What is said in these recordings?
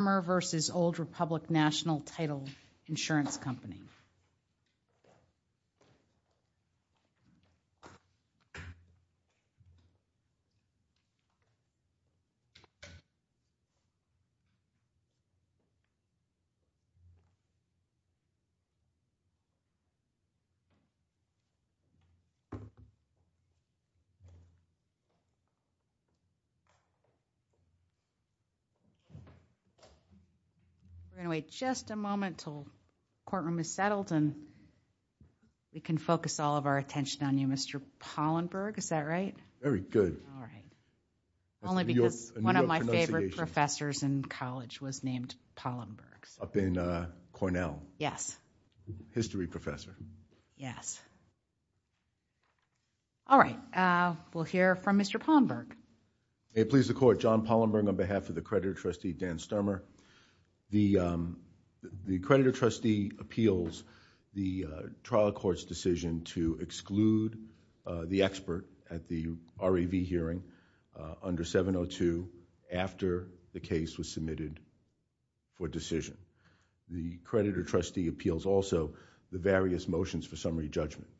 Stermer v. Old Republic National Title Insurance Company We're going to wait just a moment until the courtroom is settled and we can focus all of our attention on you, Mr. Pollenberg. Is that right? Very good. All right. Only because one of my favorite professors in college was named Pollenberg. Up in Cornell. Yes. History professor. Yes. All right. We'll hear from Mr. Pollenberg. May it please the court. John Pollenberg on The creditor trustee appeals the trial court's decision to exclude the expert at the REV hearing under 702 after the case was submitted for decision. The creditor trustee appeals also the various motions for summary judgment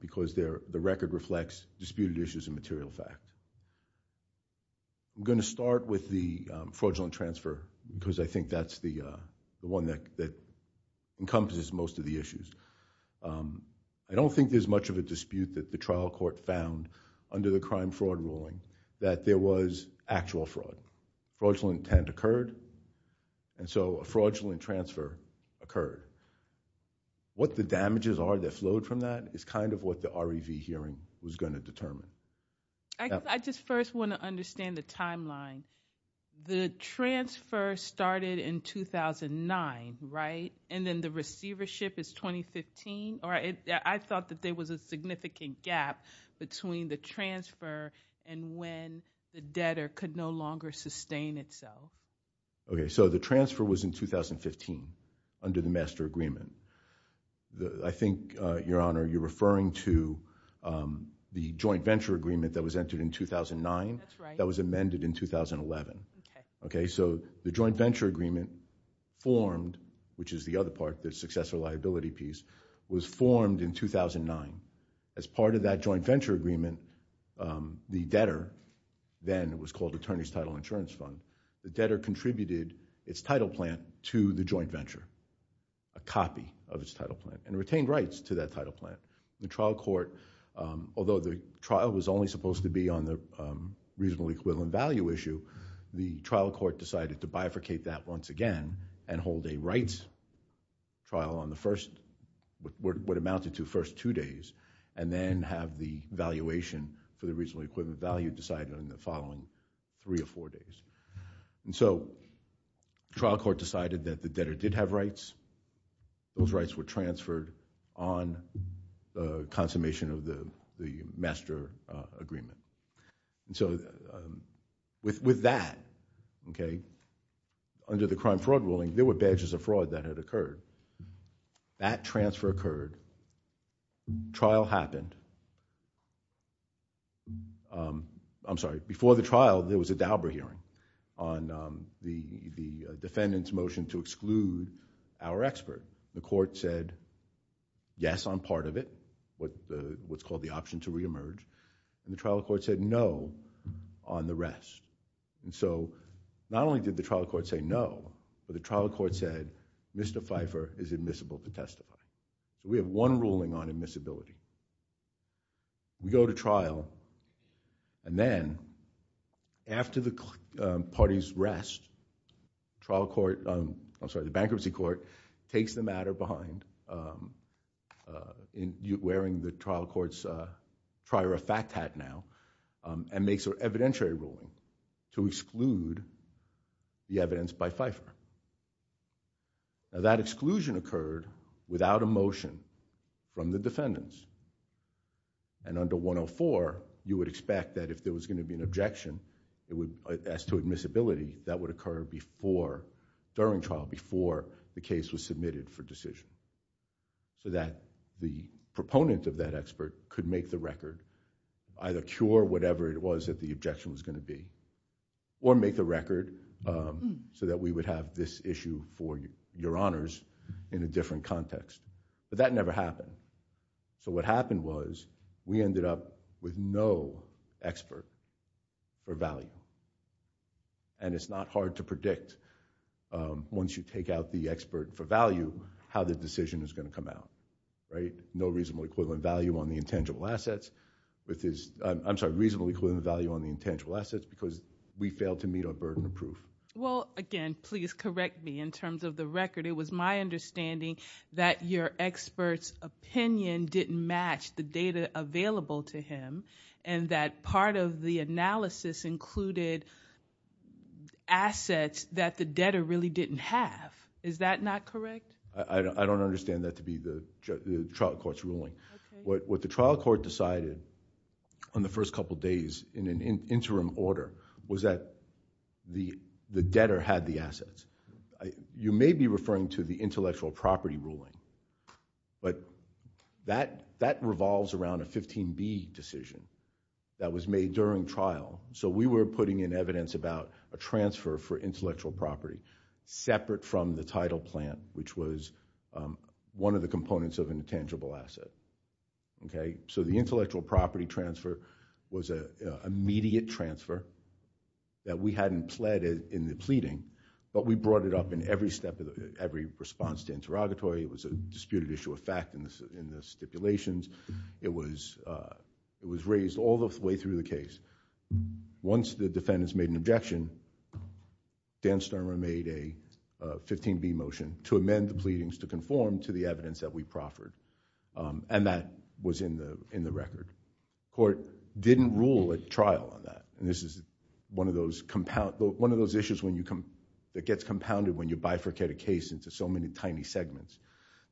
because the record reflects disputed issues and material facts. I'm going to start with the fraudulent transfer because I think that's the one that encompasses most of the issues. I don't think there's much of a dispute that the trial court found under the crime fraud ruling that there was actual fraud. Fraudulent intent occurred and so a fraudulent transfer occurred. What the damages are that flowed from that is kind of what the REV hearing was going to determine. I just first want to understand the timeline. The transfer started in 2009, right? And then the receivership is 2015 or it I thought that there was a significant gap between the transfer and when the debtor could no longer sustain itself. Okay. So the transfer was in 2015 under the master agreement. I think your honor you're referring to the joint venture agreement that was entered in 2009 that was amended in 2011. Okay. So the joint venture agreement formed, which is the other part, the successor liability piece, was formed in 2009. As part of that joint venture agreement, the debtor then was called attorney's title insurance fund. The debtor contributed its title plan to the joint venture, a copy of its title plan and retained rights to that title plan. The trial court, although the trial was only supposed to be on the reasonable equivalent value issue, the trial court decided to bifurcate that once again and hold a rights trial on the first, what amounted to first two days and then have the valuation for the reasonable equivalent value decided on the following three or four days. And so trial court decided that the debtor did have rights. Those rights were transferred on the consummation of the master agreement. So with that, okay, under the crime fraud ruling, there were badges of fraud that had occurred. That transfer occurred. Trial happened. I'm sorry. Before the trial, there was a Dauber hearing on the defendant's motion to exclude our expert. The court said, yes, I'm part of it, what's called the option to reemerge. The trial court said no on the rest. So not only did the trial court say no, but the trial court said Mr. Pfeiffer is admissible to testify. We have one ruling on admissibility. We go to trial and then after the parties rest, the bankruptcy court takes the matter behind, wearing the trial court's prior effect hat now, and makes an evidentiary ruling to exclude the evidence by Pfeiffer. Now that exclusion occurred without a motion from the defendants. Under 104, you would expect that if there was going to be an objection as to admissibility, that would occur before, during trial, before the case was submitted for decision so that the proponent of that expert could make the record, either cure whatever it was that the objection was going to be, or make the record so that we would have this issue for your honors in a different context. But that never happened. So what happened was we ended up with no expert for value. And it's not hard to predict, once you take out the expert for value, how the decision is going to come out. No reasonable equivalent value on the intangible assets. I'm sorry, reasonable equivalent value on the intangible assets because we failed to meet our burden of understanding that your expert's opinion didn't match the data available to him and that part of the analysis included assets that the debtor really didn't have. Is that not correct? I don't understand that to be the trial court's ruling. What the trial court decided on the first couple of days in an interim order was that the debtor had the assets. You may be referring to the intellectual property ruling, but that revolves around a 15B decision that was made during trial. So we were putting in evidence about a transfer for intellectual property, separate from the title plan, which was one of the components of intangible asset. Okay, so the intellectual property transfer was an immediate transfer that we hadn't pled in the pleading, but we brought it up in every response to interrogatory. It was a disputed issue of fact in the stipulations. It was raised all the way through the case. Once the defendants made an objection, Dan Sturmer made a 15B motion to amend the pleadings to conform to the evidence that we proffered, and that was in the record. Court didn't rule a trial on that, and this is one of those issues that gets compounded when you bifurcate a case into so many tiny segments.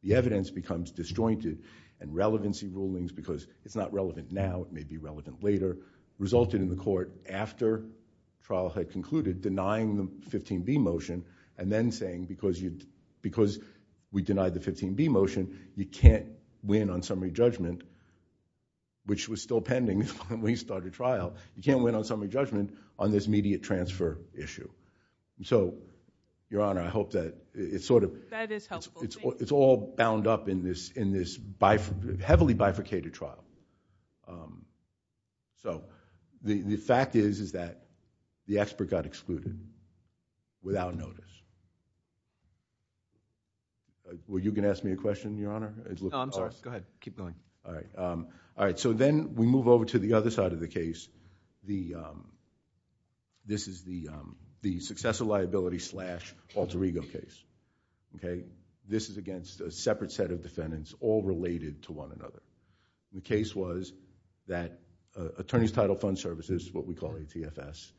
The evidence becomes disjointed, and relevancy rulings, because it's not relevant now, it may be relevant later, resulted in the court, after trial had concluded, denying the 15B motion and then saying, because we denied the 15B motion, you can't win on summary judgment, which was still pending when we started trial, you can't win on summary judgment on this immediate transfer issue. Your Honor, I hope that it's all bound up in this heavily bifurcated trial. The fact is that the expert got excluded without notice. Were you going to ask me a question, Your Honor? No, I'm sorry. Go ahead. Keep going. All right. Then we move over to the other side of the case. This is the successor liability slash alter ego case. This is against a separate set of defendants, all related to one another. The case was that Attorney's Title Fund Services, what we call ATFS,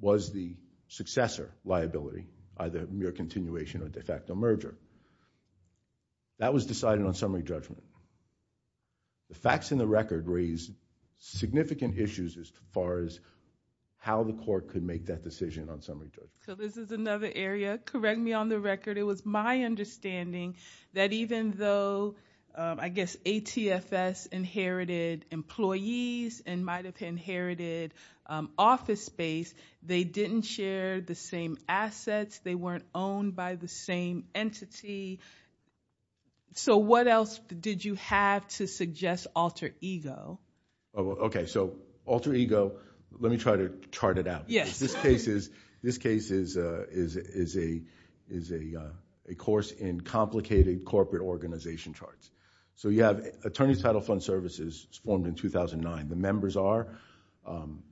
was the successor liability, either mere continuation or de facto merger. That was decided on summary judgment. The facts in the record raise significant issues as far as how the court could make that decision on summary judgment. This is another area. Correct me on the record. It was my understanding that even though, I guess, ATFS inherited employees and might have inherited office space, they didn't share the same assets. They weren't owned by the same entity. What else did you have to suggest alter ego? Okay. Alter ego, let me try to chart it out. This case is a course in complicated corporate organization charts. You have Attorney's Title Fund Services formed in 2009. The members are Old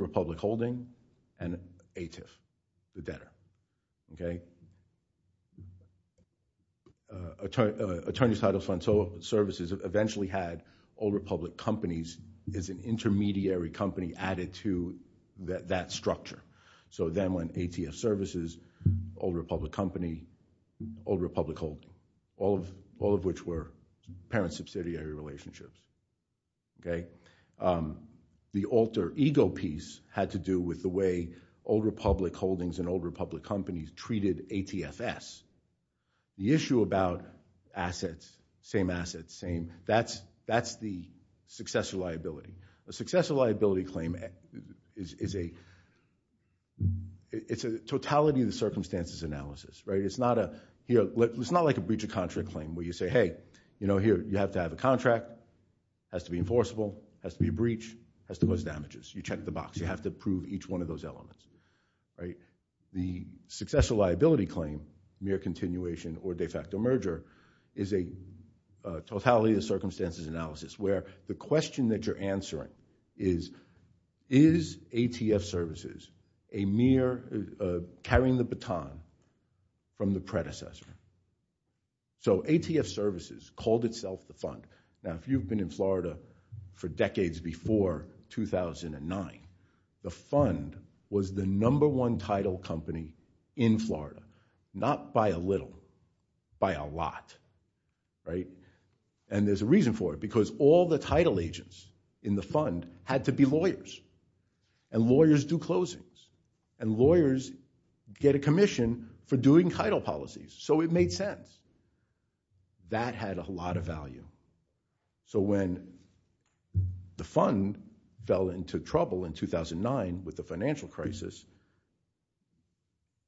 Republic Holding and ATF, the debtor. Attorney's Title Fund Services eventually had Old Republic Companies as an intermediary company added to that structure. Then when ATF Services, Old Republic Company, Old Republic Holdings, all of which were parent subsidiary relationships. The alter ego piece had to do with the way Old Republic Holdings and Old Republic Companies treated ATFS. The issue about assets, same assets, that's the successor liability. A successor liability claim is a totality of the circumstances analysis. It's not like a breach of contract claim where you say, hey, you have to have a contract, has to be enforceable, has to be a breach, has to cause damages. You check the box. You have to prove each one of those elements. The successor liability claim, mere continuation or de facto merger, is a totality of the circumstances analysis where the question that you're answering is, is ATF Services a mere carrying the baton from the predecessor? ATF Services called itself the fund. If you've been in Florida for decades before 2009, the fund was the number one title company in Florida, not by a little, by a lot. There's a reason for it because all the title agents in the fund had to be lawyers. Lawyers do closings. Lawyers get a commission for doing title policies, so it made sense. That had a lot of value. When the fund fell into trouble in 2009 with the financial crisis,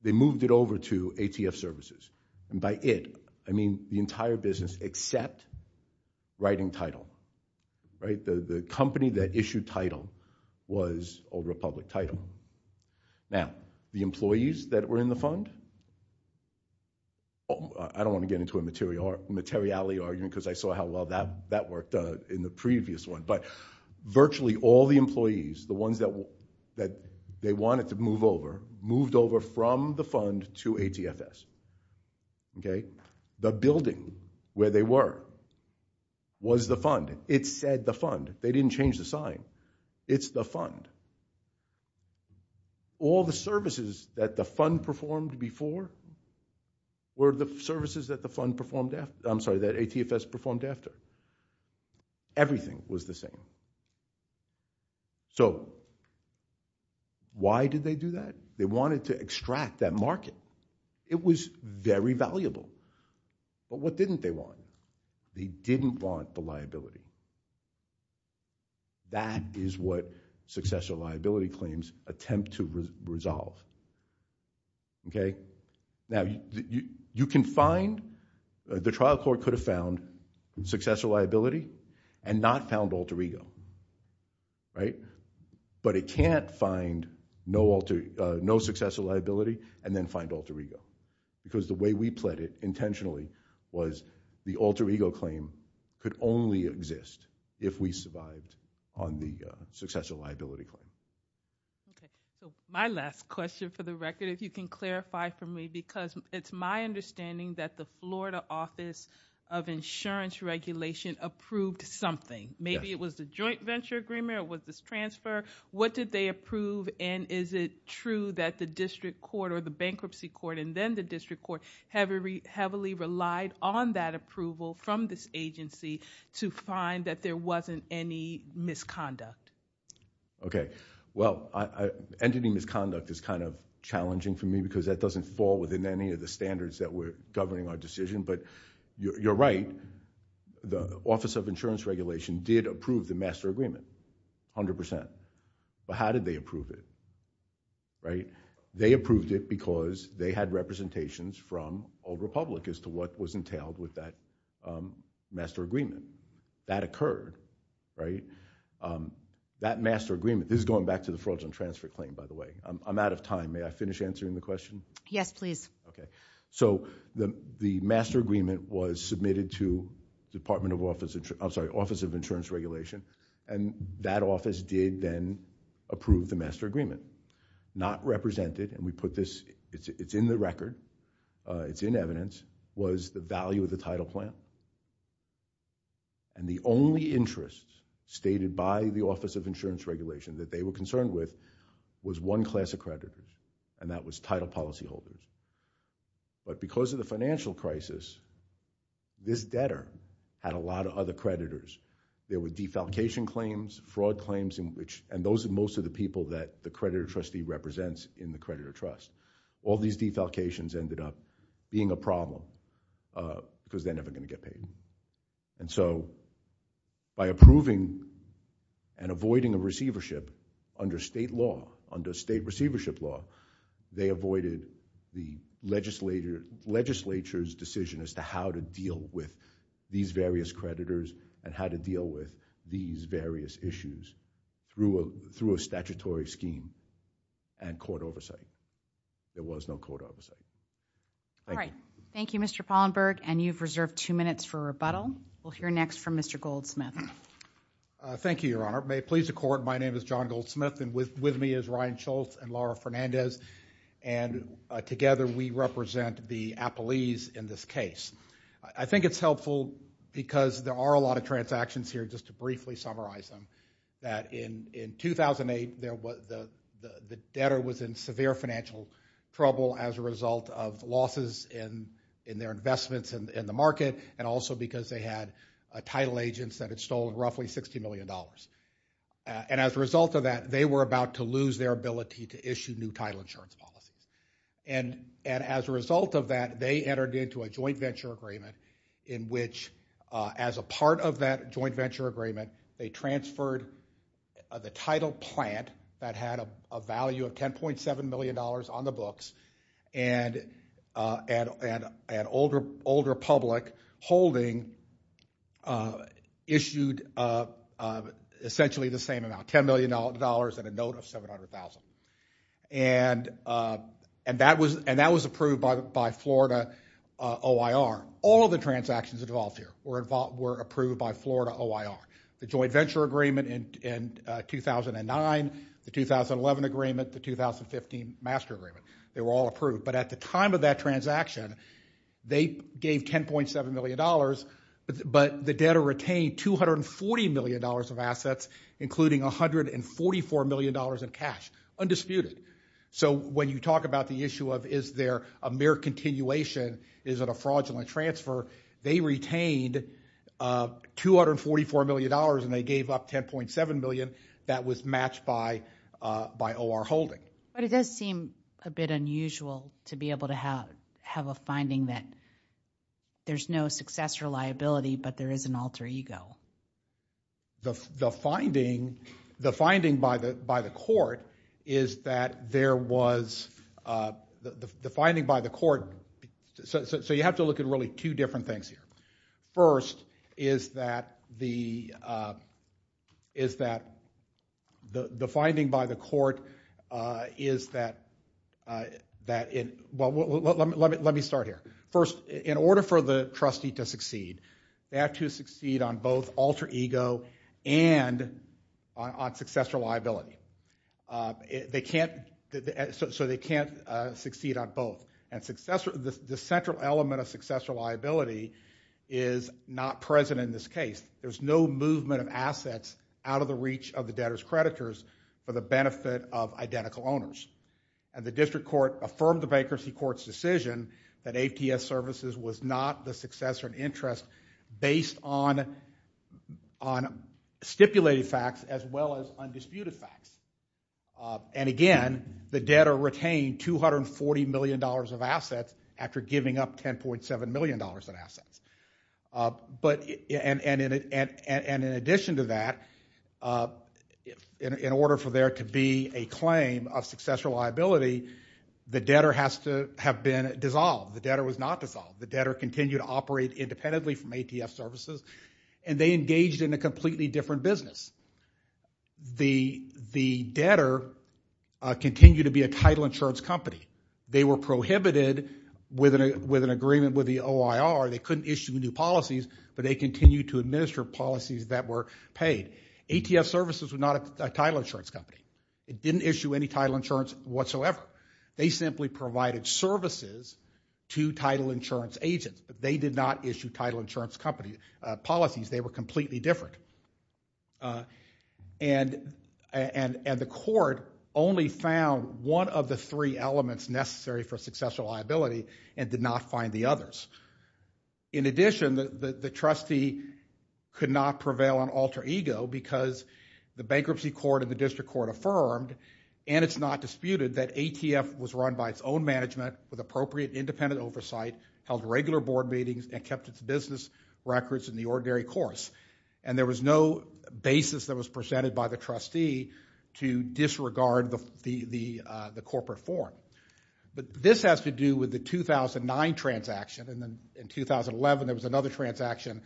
they moved it over to ATF Services. By it, I mean the entire business except writing title. The company that issued title was over a public title. Now, the employees that were in the fund, I don't want to get into a materiality argument because I saw how well that worked in the previous one, but virtually all the employees, the ones that they wanted to move over, moved over from the fund to ATFS. The building where they were was the fund. It said the fund. They didn't change the sign. It's the fund. All the services that the fund performed before were the services that ATFS performed after. Everything was the same. So why did they do that? They wanted to extract that market. It was very valuable, but what didn't they want? They didn't want the liability. That is what successor liability claims attempt to resolve. The trial court could have found successor liability and not found alter ego, but it can't find no successor liability and then find alter ego because the way we deal with alter ego is we don't want to have alter ego on the successor liability claim. Okay. My last question for the record, if you can clarify for me, because it's my understanding that the Florida Office of Insurance Regulation approved something. Maybe it was the joint venture agreement or it was this transfer. What did they approve and is it true that the district court or the bankruptcy court and then the district court heavily relied on that approval from this agency to find that there wasn't any misconduct? Okay. Well, entity misconduct is kind of challenging for me because that doesn't fall within any of the standards that were governing our decision, but you're right. The Office of Insurance Regulation did approve the master agreement, 100%. But how did they approve it? They approved it because they had representations from Old Republic as to what was entailed with that master agreement. That occurred, right? That master agreement, this is going back to the fraudulent transfer claim, by the way. I'm out of time. May I finish answering the question? Yes, please. Okay. So the master agreement was submitted to Office of Insurance Regulation and that office did then approve the master agreement. Not represented, and we put this, it's in the record, it's in evidence, was the value of the title plan and the only interest stated by the Office of Insurance Regulation that they were concerned with was one class of creditors and that was title policyholders. But because of the financial crisis, this debtor had a lot of other creditors. There were defalcation claims, fraud claims, and those are most of the people that the creditor trusts. All these defalcations ended up being a problem because they're never going to get paid. And so by approving and avoiding a receivership under state law, under state receivership law, they avoided the legislature's decision as to how to deal with these various creditors and how to deal with these various issues through a statutory scheme and court oversight. There was no court oversight. All right. Thank you, Mr. Pollenberg, and you've reserved two minutes for rebuttal. We'll hear next from Mr. Goldsmith. Thank you, Your Honor. May it please the Court, my name is John Goldsmith and with me is Ryan Schultz and Laura Fernandez, and together we represent the appellees in this case. I think it's helpful because there are a lot of transactions here, just to briefly summarize them, that in 2008, the debtor was in severe financial trouble as a result of losses in their investments in the market and also because they had title agents that had stolen roughly $60 million. And as a result of that, they were about to lose their ability to issue new title insurance policies. And as a result of that, they entered into a joint venture agreement in which, as a result, the title plant that had a value of $10.7 million on the books and an older public holding issued essentially the same amount, $10 million and a note of $700,000. And that was approved by Florida OIR. All of the transactions involved here were approved by Florida OIR. The joint venture agreement in 2009, the 2011 agreement, the 2015 master agreement, they were all approved. But at the time of that transaction, they gave $10.7 million, but the debtor retained $240 million of assets, including $144 million in cash, undisputed. So when you talk about the issue of is there a mere continuation, is it a fraudulent transfer, they retained $244 million and they gave up $10.7 million. That was matched by OIR holding. But it does seem a bit unusual to be able to have a finding that there's no successor liability, but there is an alter ego. The finding by the court is that there was... the finding by the court... so you have to look at really two different things here. First is that the finding by the court is that... let me start here. First, in order for the trustee to succeed, they have to succeed on both alter ego and on successor liability. So they can't succeed on both. The central element of successor liability is not present in this case. There's no movement of assets out of the reach of the debtor's creditors for the benefit of identical owners. And the district court affirmed the bankruptcy court's decision that AFTS Services was not the successor in interest based on stipulated facts as well as undisputed facts. And again, the debtor retained $240 million of assets after giving up $10.7 million in assets. And in addition to that, in order for there to be a claim of successor liability, the debtor has to have been dissolved. The debtor was not dissolved. The debtor continued to operate independently from ATF Services, and they engaged in a completely different business. The debtor continued to be a title insurance company. They were prohibited with an agreement with the OIR. They couldn't issue new policies, but they continued to administer policies that were paid. ATF Services was not a title insurance company. It didn't issue any title insurance whatsoever. They simply provided services to title insurance agents. They did not issue title insurance policies. They were completely different. And the court only found one of the three elements necessary for successor liability and did not find the others. In addition, the trustee could not prevail on alter ego because the bankruptcy court and the district court affirmed, and it's not disputed, that ATF was run by its own management with appropriate independent oversight, held regular board meetings, and kept its business records in the ordinary course. And there was no basis that was presented by the trustee to disregard the corporate form. But this has to do with the 2009 transaction. And then in 2011, there was another transaction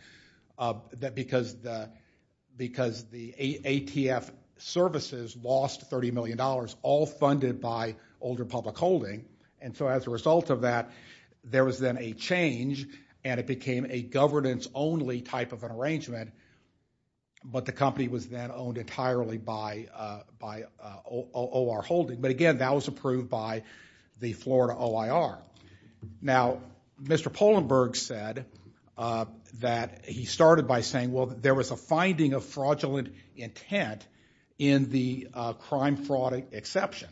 because the ATF Services lost $30 million, all funded by Older Public Holding. And so as a result of that, there was then a change, and it became a governance-only type of an arrangement. But the company was then owned entirely by OR Holding. But again, that was approved by the Florida OIR. Now, Mr. Polenberg said that he started by saying, well, there was a finding of fraudulent intent in the crime fraud exception.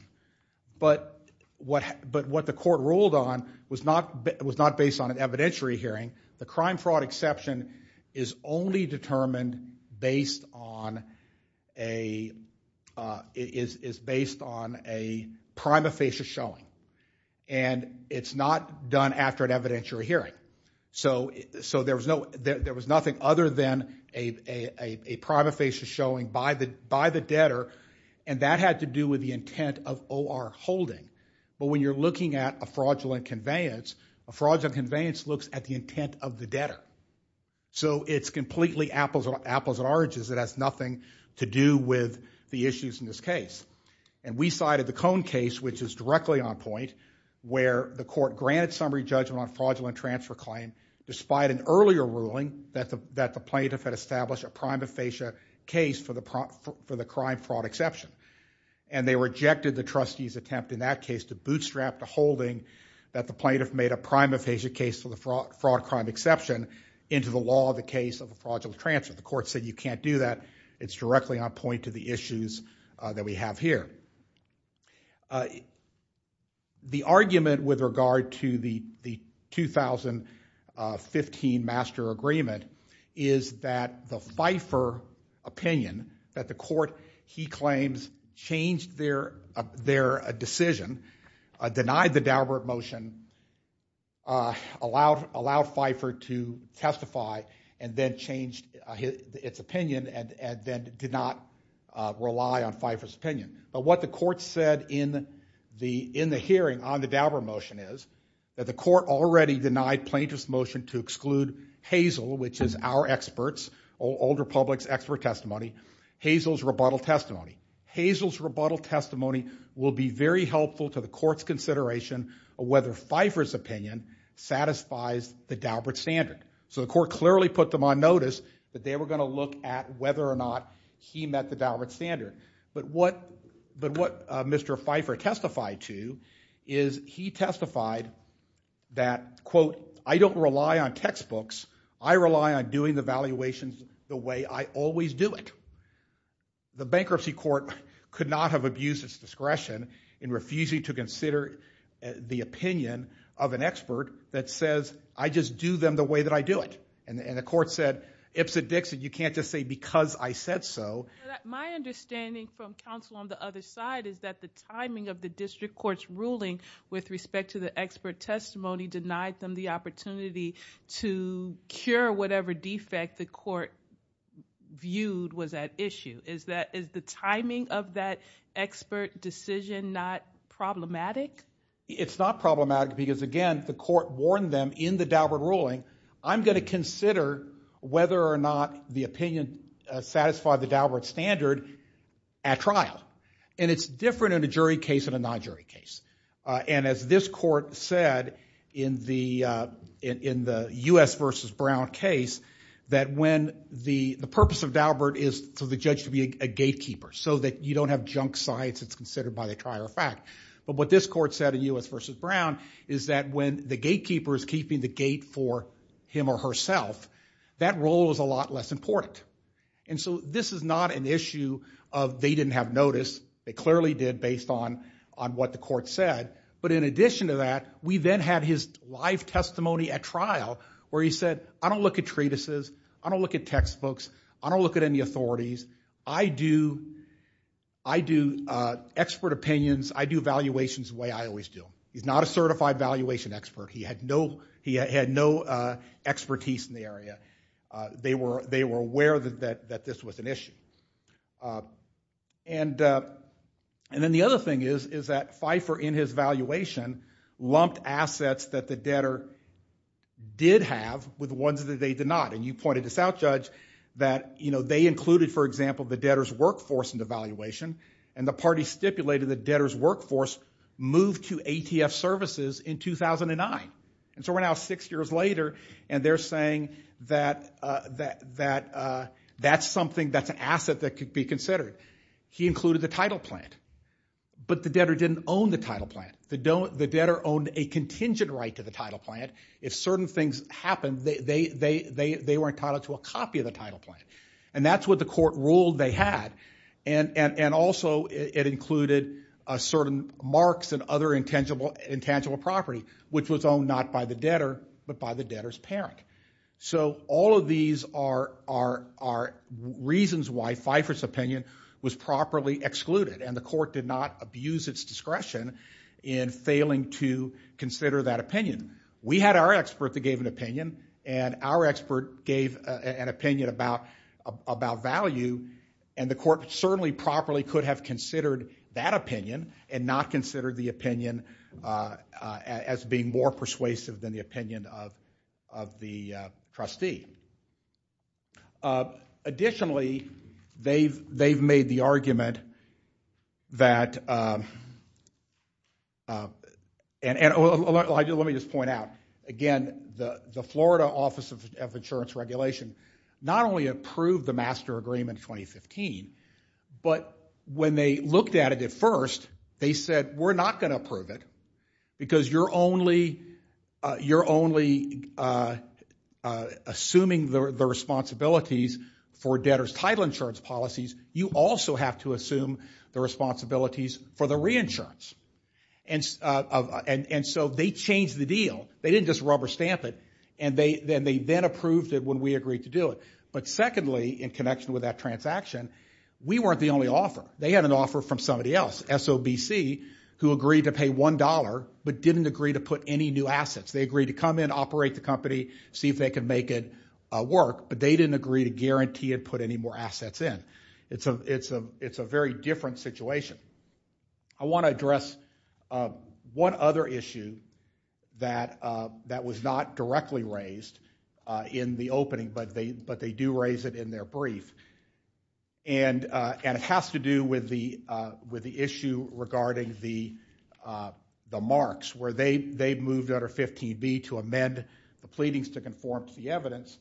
But what the court ruled on was not based on an evidentiary hearing. The crime fraud exception is only determined based on a prima facie showing. And it's not done after an evidentiary hearing. So there was nothing other than a prima facie showing by the debtor. And that had to do with the intent of OR Holding. But when you're looking at a fraudulent conveyance, a fraudulent conveyance looks at the intent of the debtor. So it's completely apples and oranges. It has nothing to do with the issues in this case. And we cited the Cone case, which is directly on point, where the court granted summary judgment on fraudulent transfer claim, despite an earlier ruling that the plaintiff had established a prima facie case for the crime fraud exception. And they rejected the trustee's attempt in that case to bootstrap the holding that the plaintiff made a prima facie case for the fraud crime exception into the law of the case of a fraudulent transfer. The court said, you can't do that. It's directly on point to the issues that we have here. The argument with regard to the 2015 master agreement is that the Pfeiffer opinion that the court, he claims, changed their decision, denied the Daubert motion, allowed Pfeiffer to testify, and then changed its opinion, and then did not rely on Pfeiffer's opinion. But what the court said in the hearing on the Daubert motion is that the court already denied plaintiff's motion to exclude Hazel, which is our experts, Old Republic's expert testimony, Hazel's rebuttal testimony. Hazel's rebuttal testimony will be very helpful to the court's consideration of whether Pfeiffer's opinion satisfies the Daubert standard. So the court clearly put them on notice that they were going to look at whether or not he met the Daubert standard. But what Mr. Pfeiffer testified to is he testified that, quote, I don't rely on textbooks. I rely on doing the valuations the way I always do it. The bankruptcy court could not have abused its discretion in refusing to consider the opinion of an expert that says, I just do them the way that I do it. And the court said, ips and dicks, and you can't just say because I said so. My understanding from counsel on the side is that the timing of the district court's ruling with respect to the expert testimony denied them the opportunity to cure whatever defect the court viewed was at issue. Is the timing of that expert decision not problematic? It's not problematic because, again, the court warned them in the Daubert ruling, I'm going to consider whether or not the opinion satisfied the Daubert standard at trial. And it's different in a jury case and a non-jury case. And as this court said in the US versus Brown case, that when the purpose of Daubert is for the judge to be a gatekeeper, so that you don't have junk science that's considered by the trier of fact. But what this court said in US versus Brown is that when the gatekeeper is keeping the gate for him or And so this is not an issue of they didn't have notice. They clearly did based on what the court said. But in addition to that, we then had his live testimony at trial where he said, I don't look at treatises. I don't look at textbooks. I don't look at any authorities. I do expert opinions. I do evaluations the way I always do. He's not a certified valuation expert. He had no expertise in the area. They were aware that this was an issue. And then the other thing is that Pfeiffer, in his valuation, lumped assets that the debtor did have with ones that they did not. And you pointed this out, Judge, that they included, for example, the debtor's workforce in the valuation. And the party stipulated the debtor's services in 2009. And so we're now six years later, and they're saying that that's something, that's an asset that could be considered. He included the title plant. But the debtor didn't own the title plant. The debtor owned a contingent right to the title plant. If certain things happened, they were entitled to a copy of the title plant. And that's what the court ruled they had. And also, it included certain marks and other intangible property, which was owned not by the debtor, but by the debtor's parent. So all of these are reasons why Pfeiffer's opinion was properly excluded. And the court did not abuse its discretion in failing to consider that opinion. We had our expert that gave an opinion. And our expert gave an opinion about value. And the court certainly properly could have considered that opinion and not considered the opinion as being more persuasive than the opinion of the trustee. Additionally, they've made the argument that, and let me just point out, again, the Florida Office of Insurance Regulation not only approved the master agreement in 2015, but when they looked at it at first, they said, we're not going to approve it because you're only assuming the responsibilities for debtor's title insurance policies. You also have to assume the responsibilities for the reinsurance. And so they changed the deal. They didn't just rubber stamp it. And they then approved it when we agreed to do it. But secondly, in connection with that transaction, we weren't the only offer. They had an offer from somebody else, SOBC, who agreed to pay $1, but didn't agree to put any new assets. They agreed to come in, operate the company, see if they could make it work, but they didn't agree to guarantee and put any more assets in. It's a very different situation. I want to address one other issue that was not directly raised in the opening, but they do raise it in their brief. And it has to do with the issue regarding the marks, where they moved under 15B to amend the pleadings to conform to the evidence,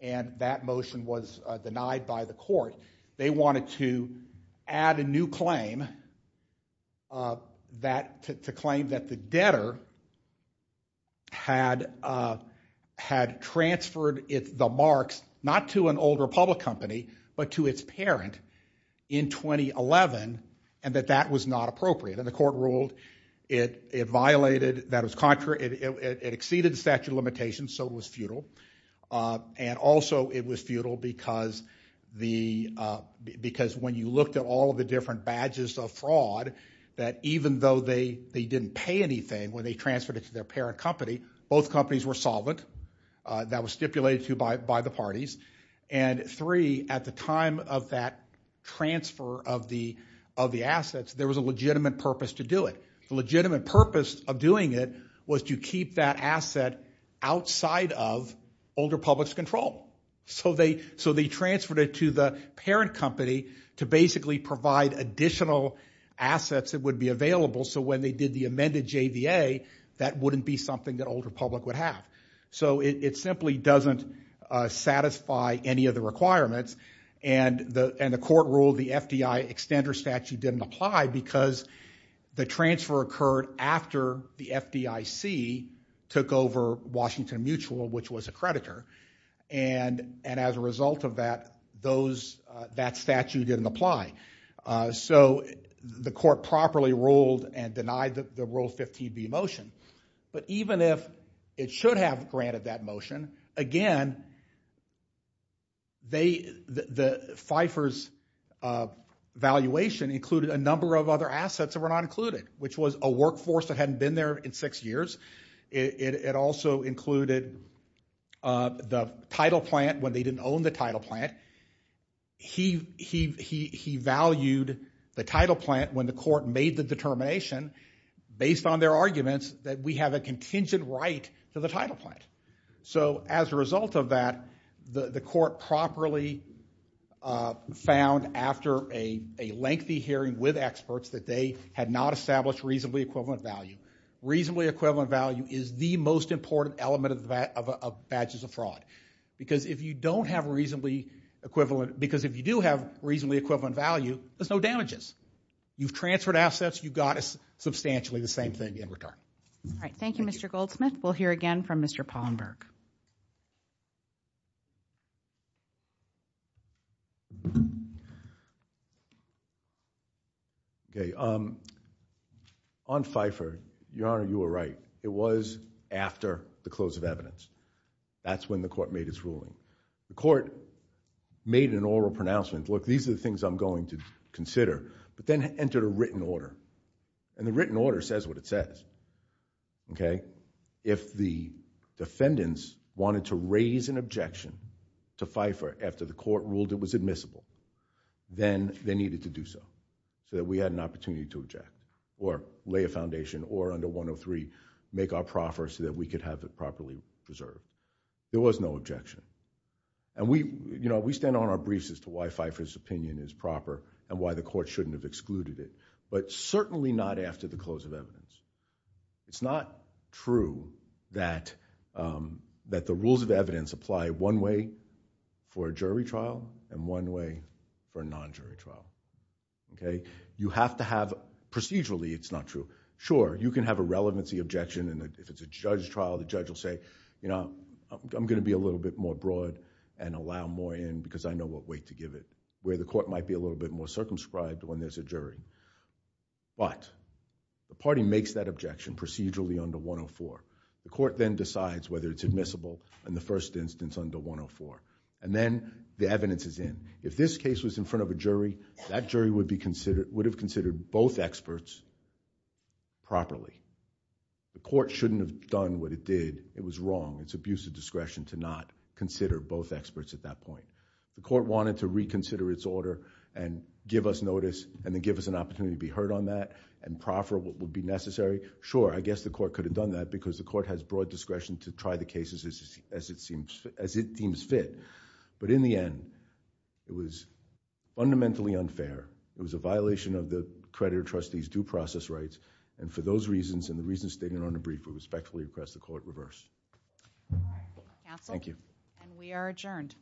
and that motion was denied by the court. They wanted to add a new claim, to claim that the debtor had transferred the marks, not to an old Republic company, but to its parent in 2011, and that that was not appropriate. And the court ruled it violated, that it exceeded the statute of limitations, so it was futile. And also it was futile because when you looked at all of the different badges of fraud, that even though they didn't pay anything when they transferred it to their parent company, both companies were solvent. That was stipulated to by the parties. And three, at the time of that transfer of the assets, there was a legitimate purpose to do it. The legitimate purpose of doing it was to keep that asset outside of older public's control. So they transferred it to the parent company to basically provide additional assets that would be available, so when they did the amended JVA, that wouldn't be something that older public would have. So it simply doesn't satisfy any of the requirements, and the court ruled the FDIC took over Washington Mutual, which was a creditor, and as a result of that, that statute didn't apply. So the court properly ruled and denied the Rule 15b motion. But even if it should have granted that motion, again, the FIFRS valuation included a number of assets that were not included, which was a workforce that hadn't been there in six years. It also included the title plant when they didn't own the title plant. He valued the title plant when the court made the determination, based on their arguments, that we have a contingent right to the title plant. So as a result of that, the court properly found, after a lengthy hearing with experts, that they had not established reasonably equivalent value. Reasonably equivalent value is the most important element of badges of fraud, because if you don't have reasonably equivalent, because if you do have reasonably equivalent value, there's no damages. You've transferred assets, you've got substantially the same thing in return. All right, thank you, Your Honor, you were right. It was after the close of evidence. That's when the court made its ruling. The court made an oral pronouncement, look, these are the things I'm going to consider, but then entered a written order, and the written order says what it says. If the defendants wanted to raise an objection to FIFR after the court ruled it was admissible, then they needed to do so, so that we had an opportunity to object, or lay a foundation, or under 103, make our proffer so that we could have it properly preserved. There was no objection, and we stand on our briefs as to why FIFR's opinion is proper and why the court shouldn't have excluded it, but certainly not after the close of evidence. It's not true that that the rules of evidence apply one way for a jury trial and one way for a non-jury trial. You have to have, procedurally, it's not true. Sure, you can have a relevancy objection, and if it's a judge trial, the judge will say, I'm going to be a little bit more broad and allow more in because I know what weight to give it, where the court might be a little bit more circumscribed when there's a jury, but the party makes that objection procedurally under 104. The court then decides whether it's admissible in the first instance under 104, and then the evidence is in. If this case was in front of a jury, that jury would have considered both experts properly. The court shouldn't have done what it did. It was wrong. It's abuse of discretion to not consider both experts at that point. The court wanted to reconsider its order and give us notice, and then give us an opportunity to be heard on that, and proffer what would be necessary. Sure, I guess the court could have done that because the court has broad discretion to try the cases as it seems fit, but in the end, it was fundamentally unfair. It was a violation of the creditor trustee's due process rights, and for those reasons and the reasons stated on the brief, we respectfully request the court reverse. Thank you. We are adjourned.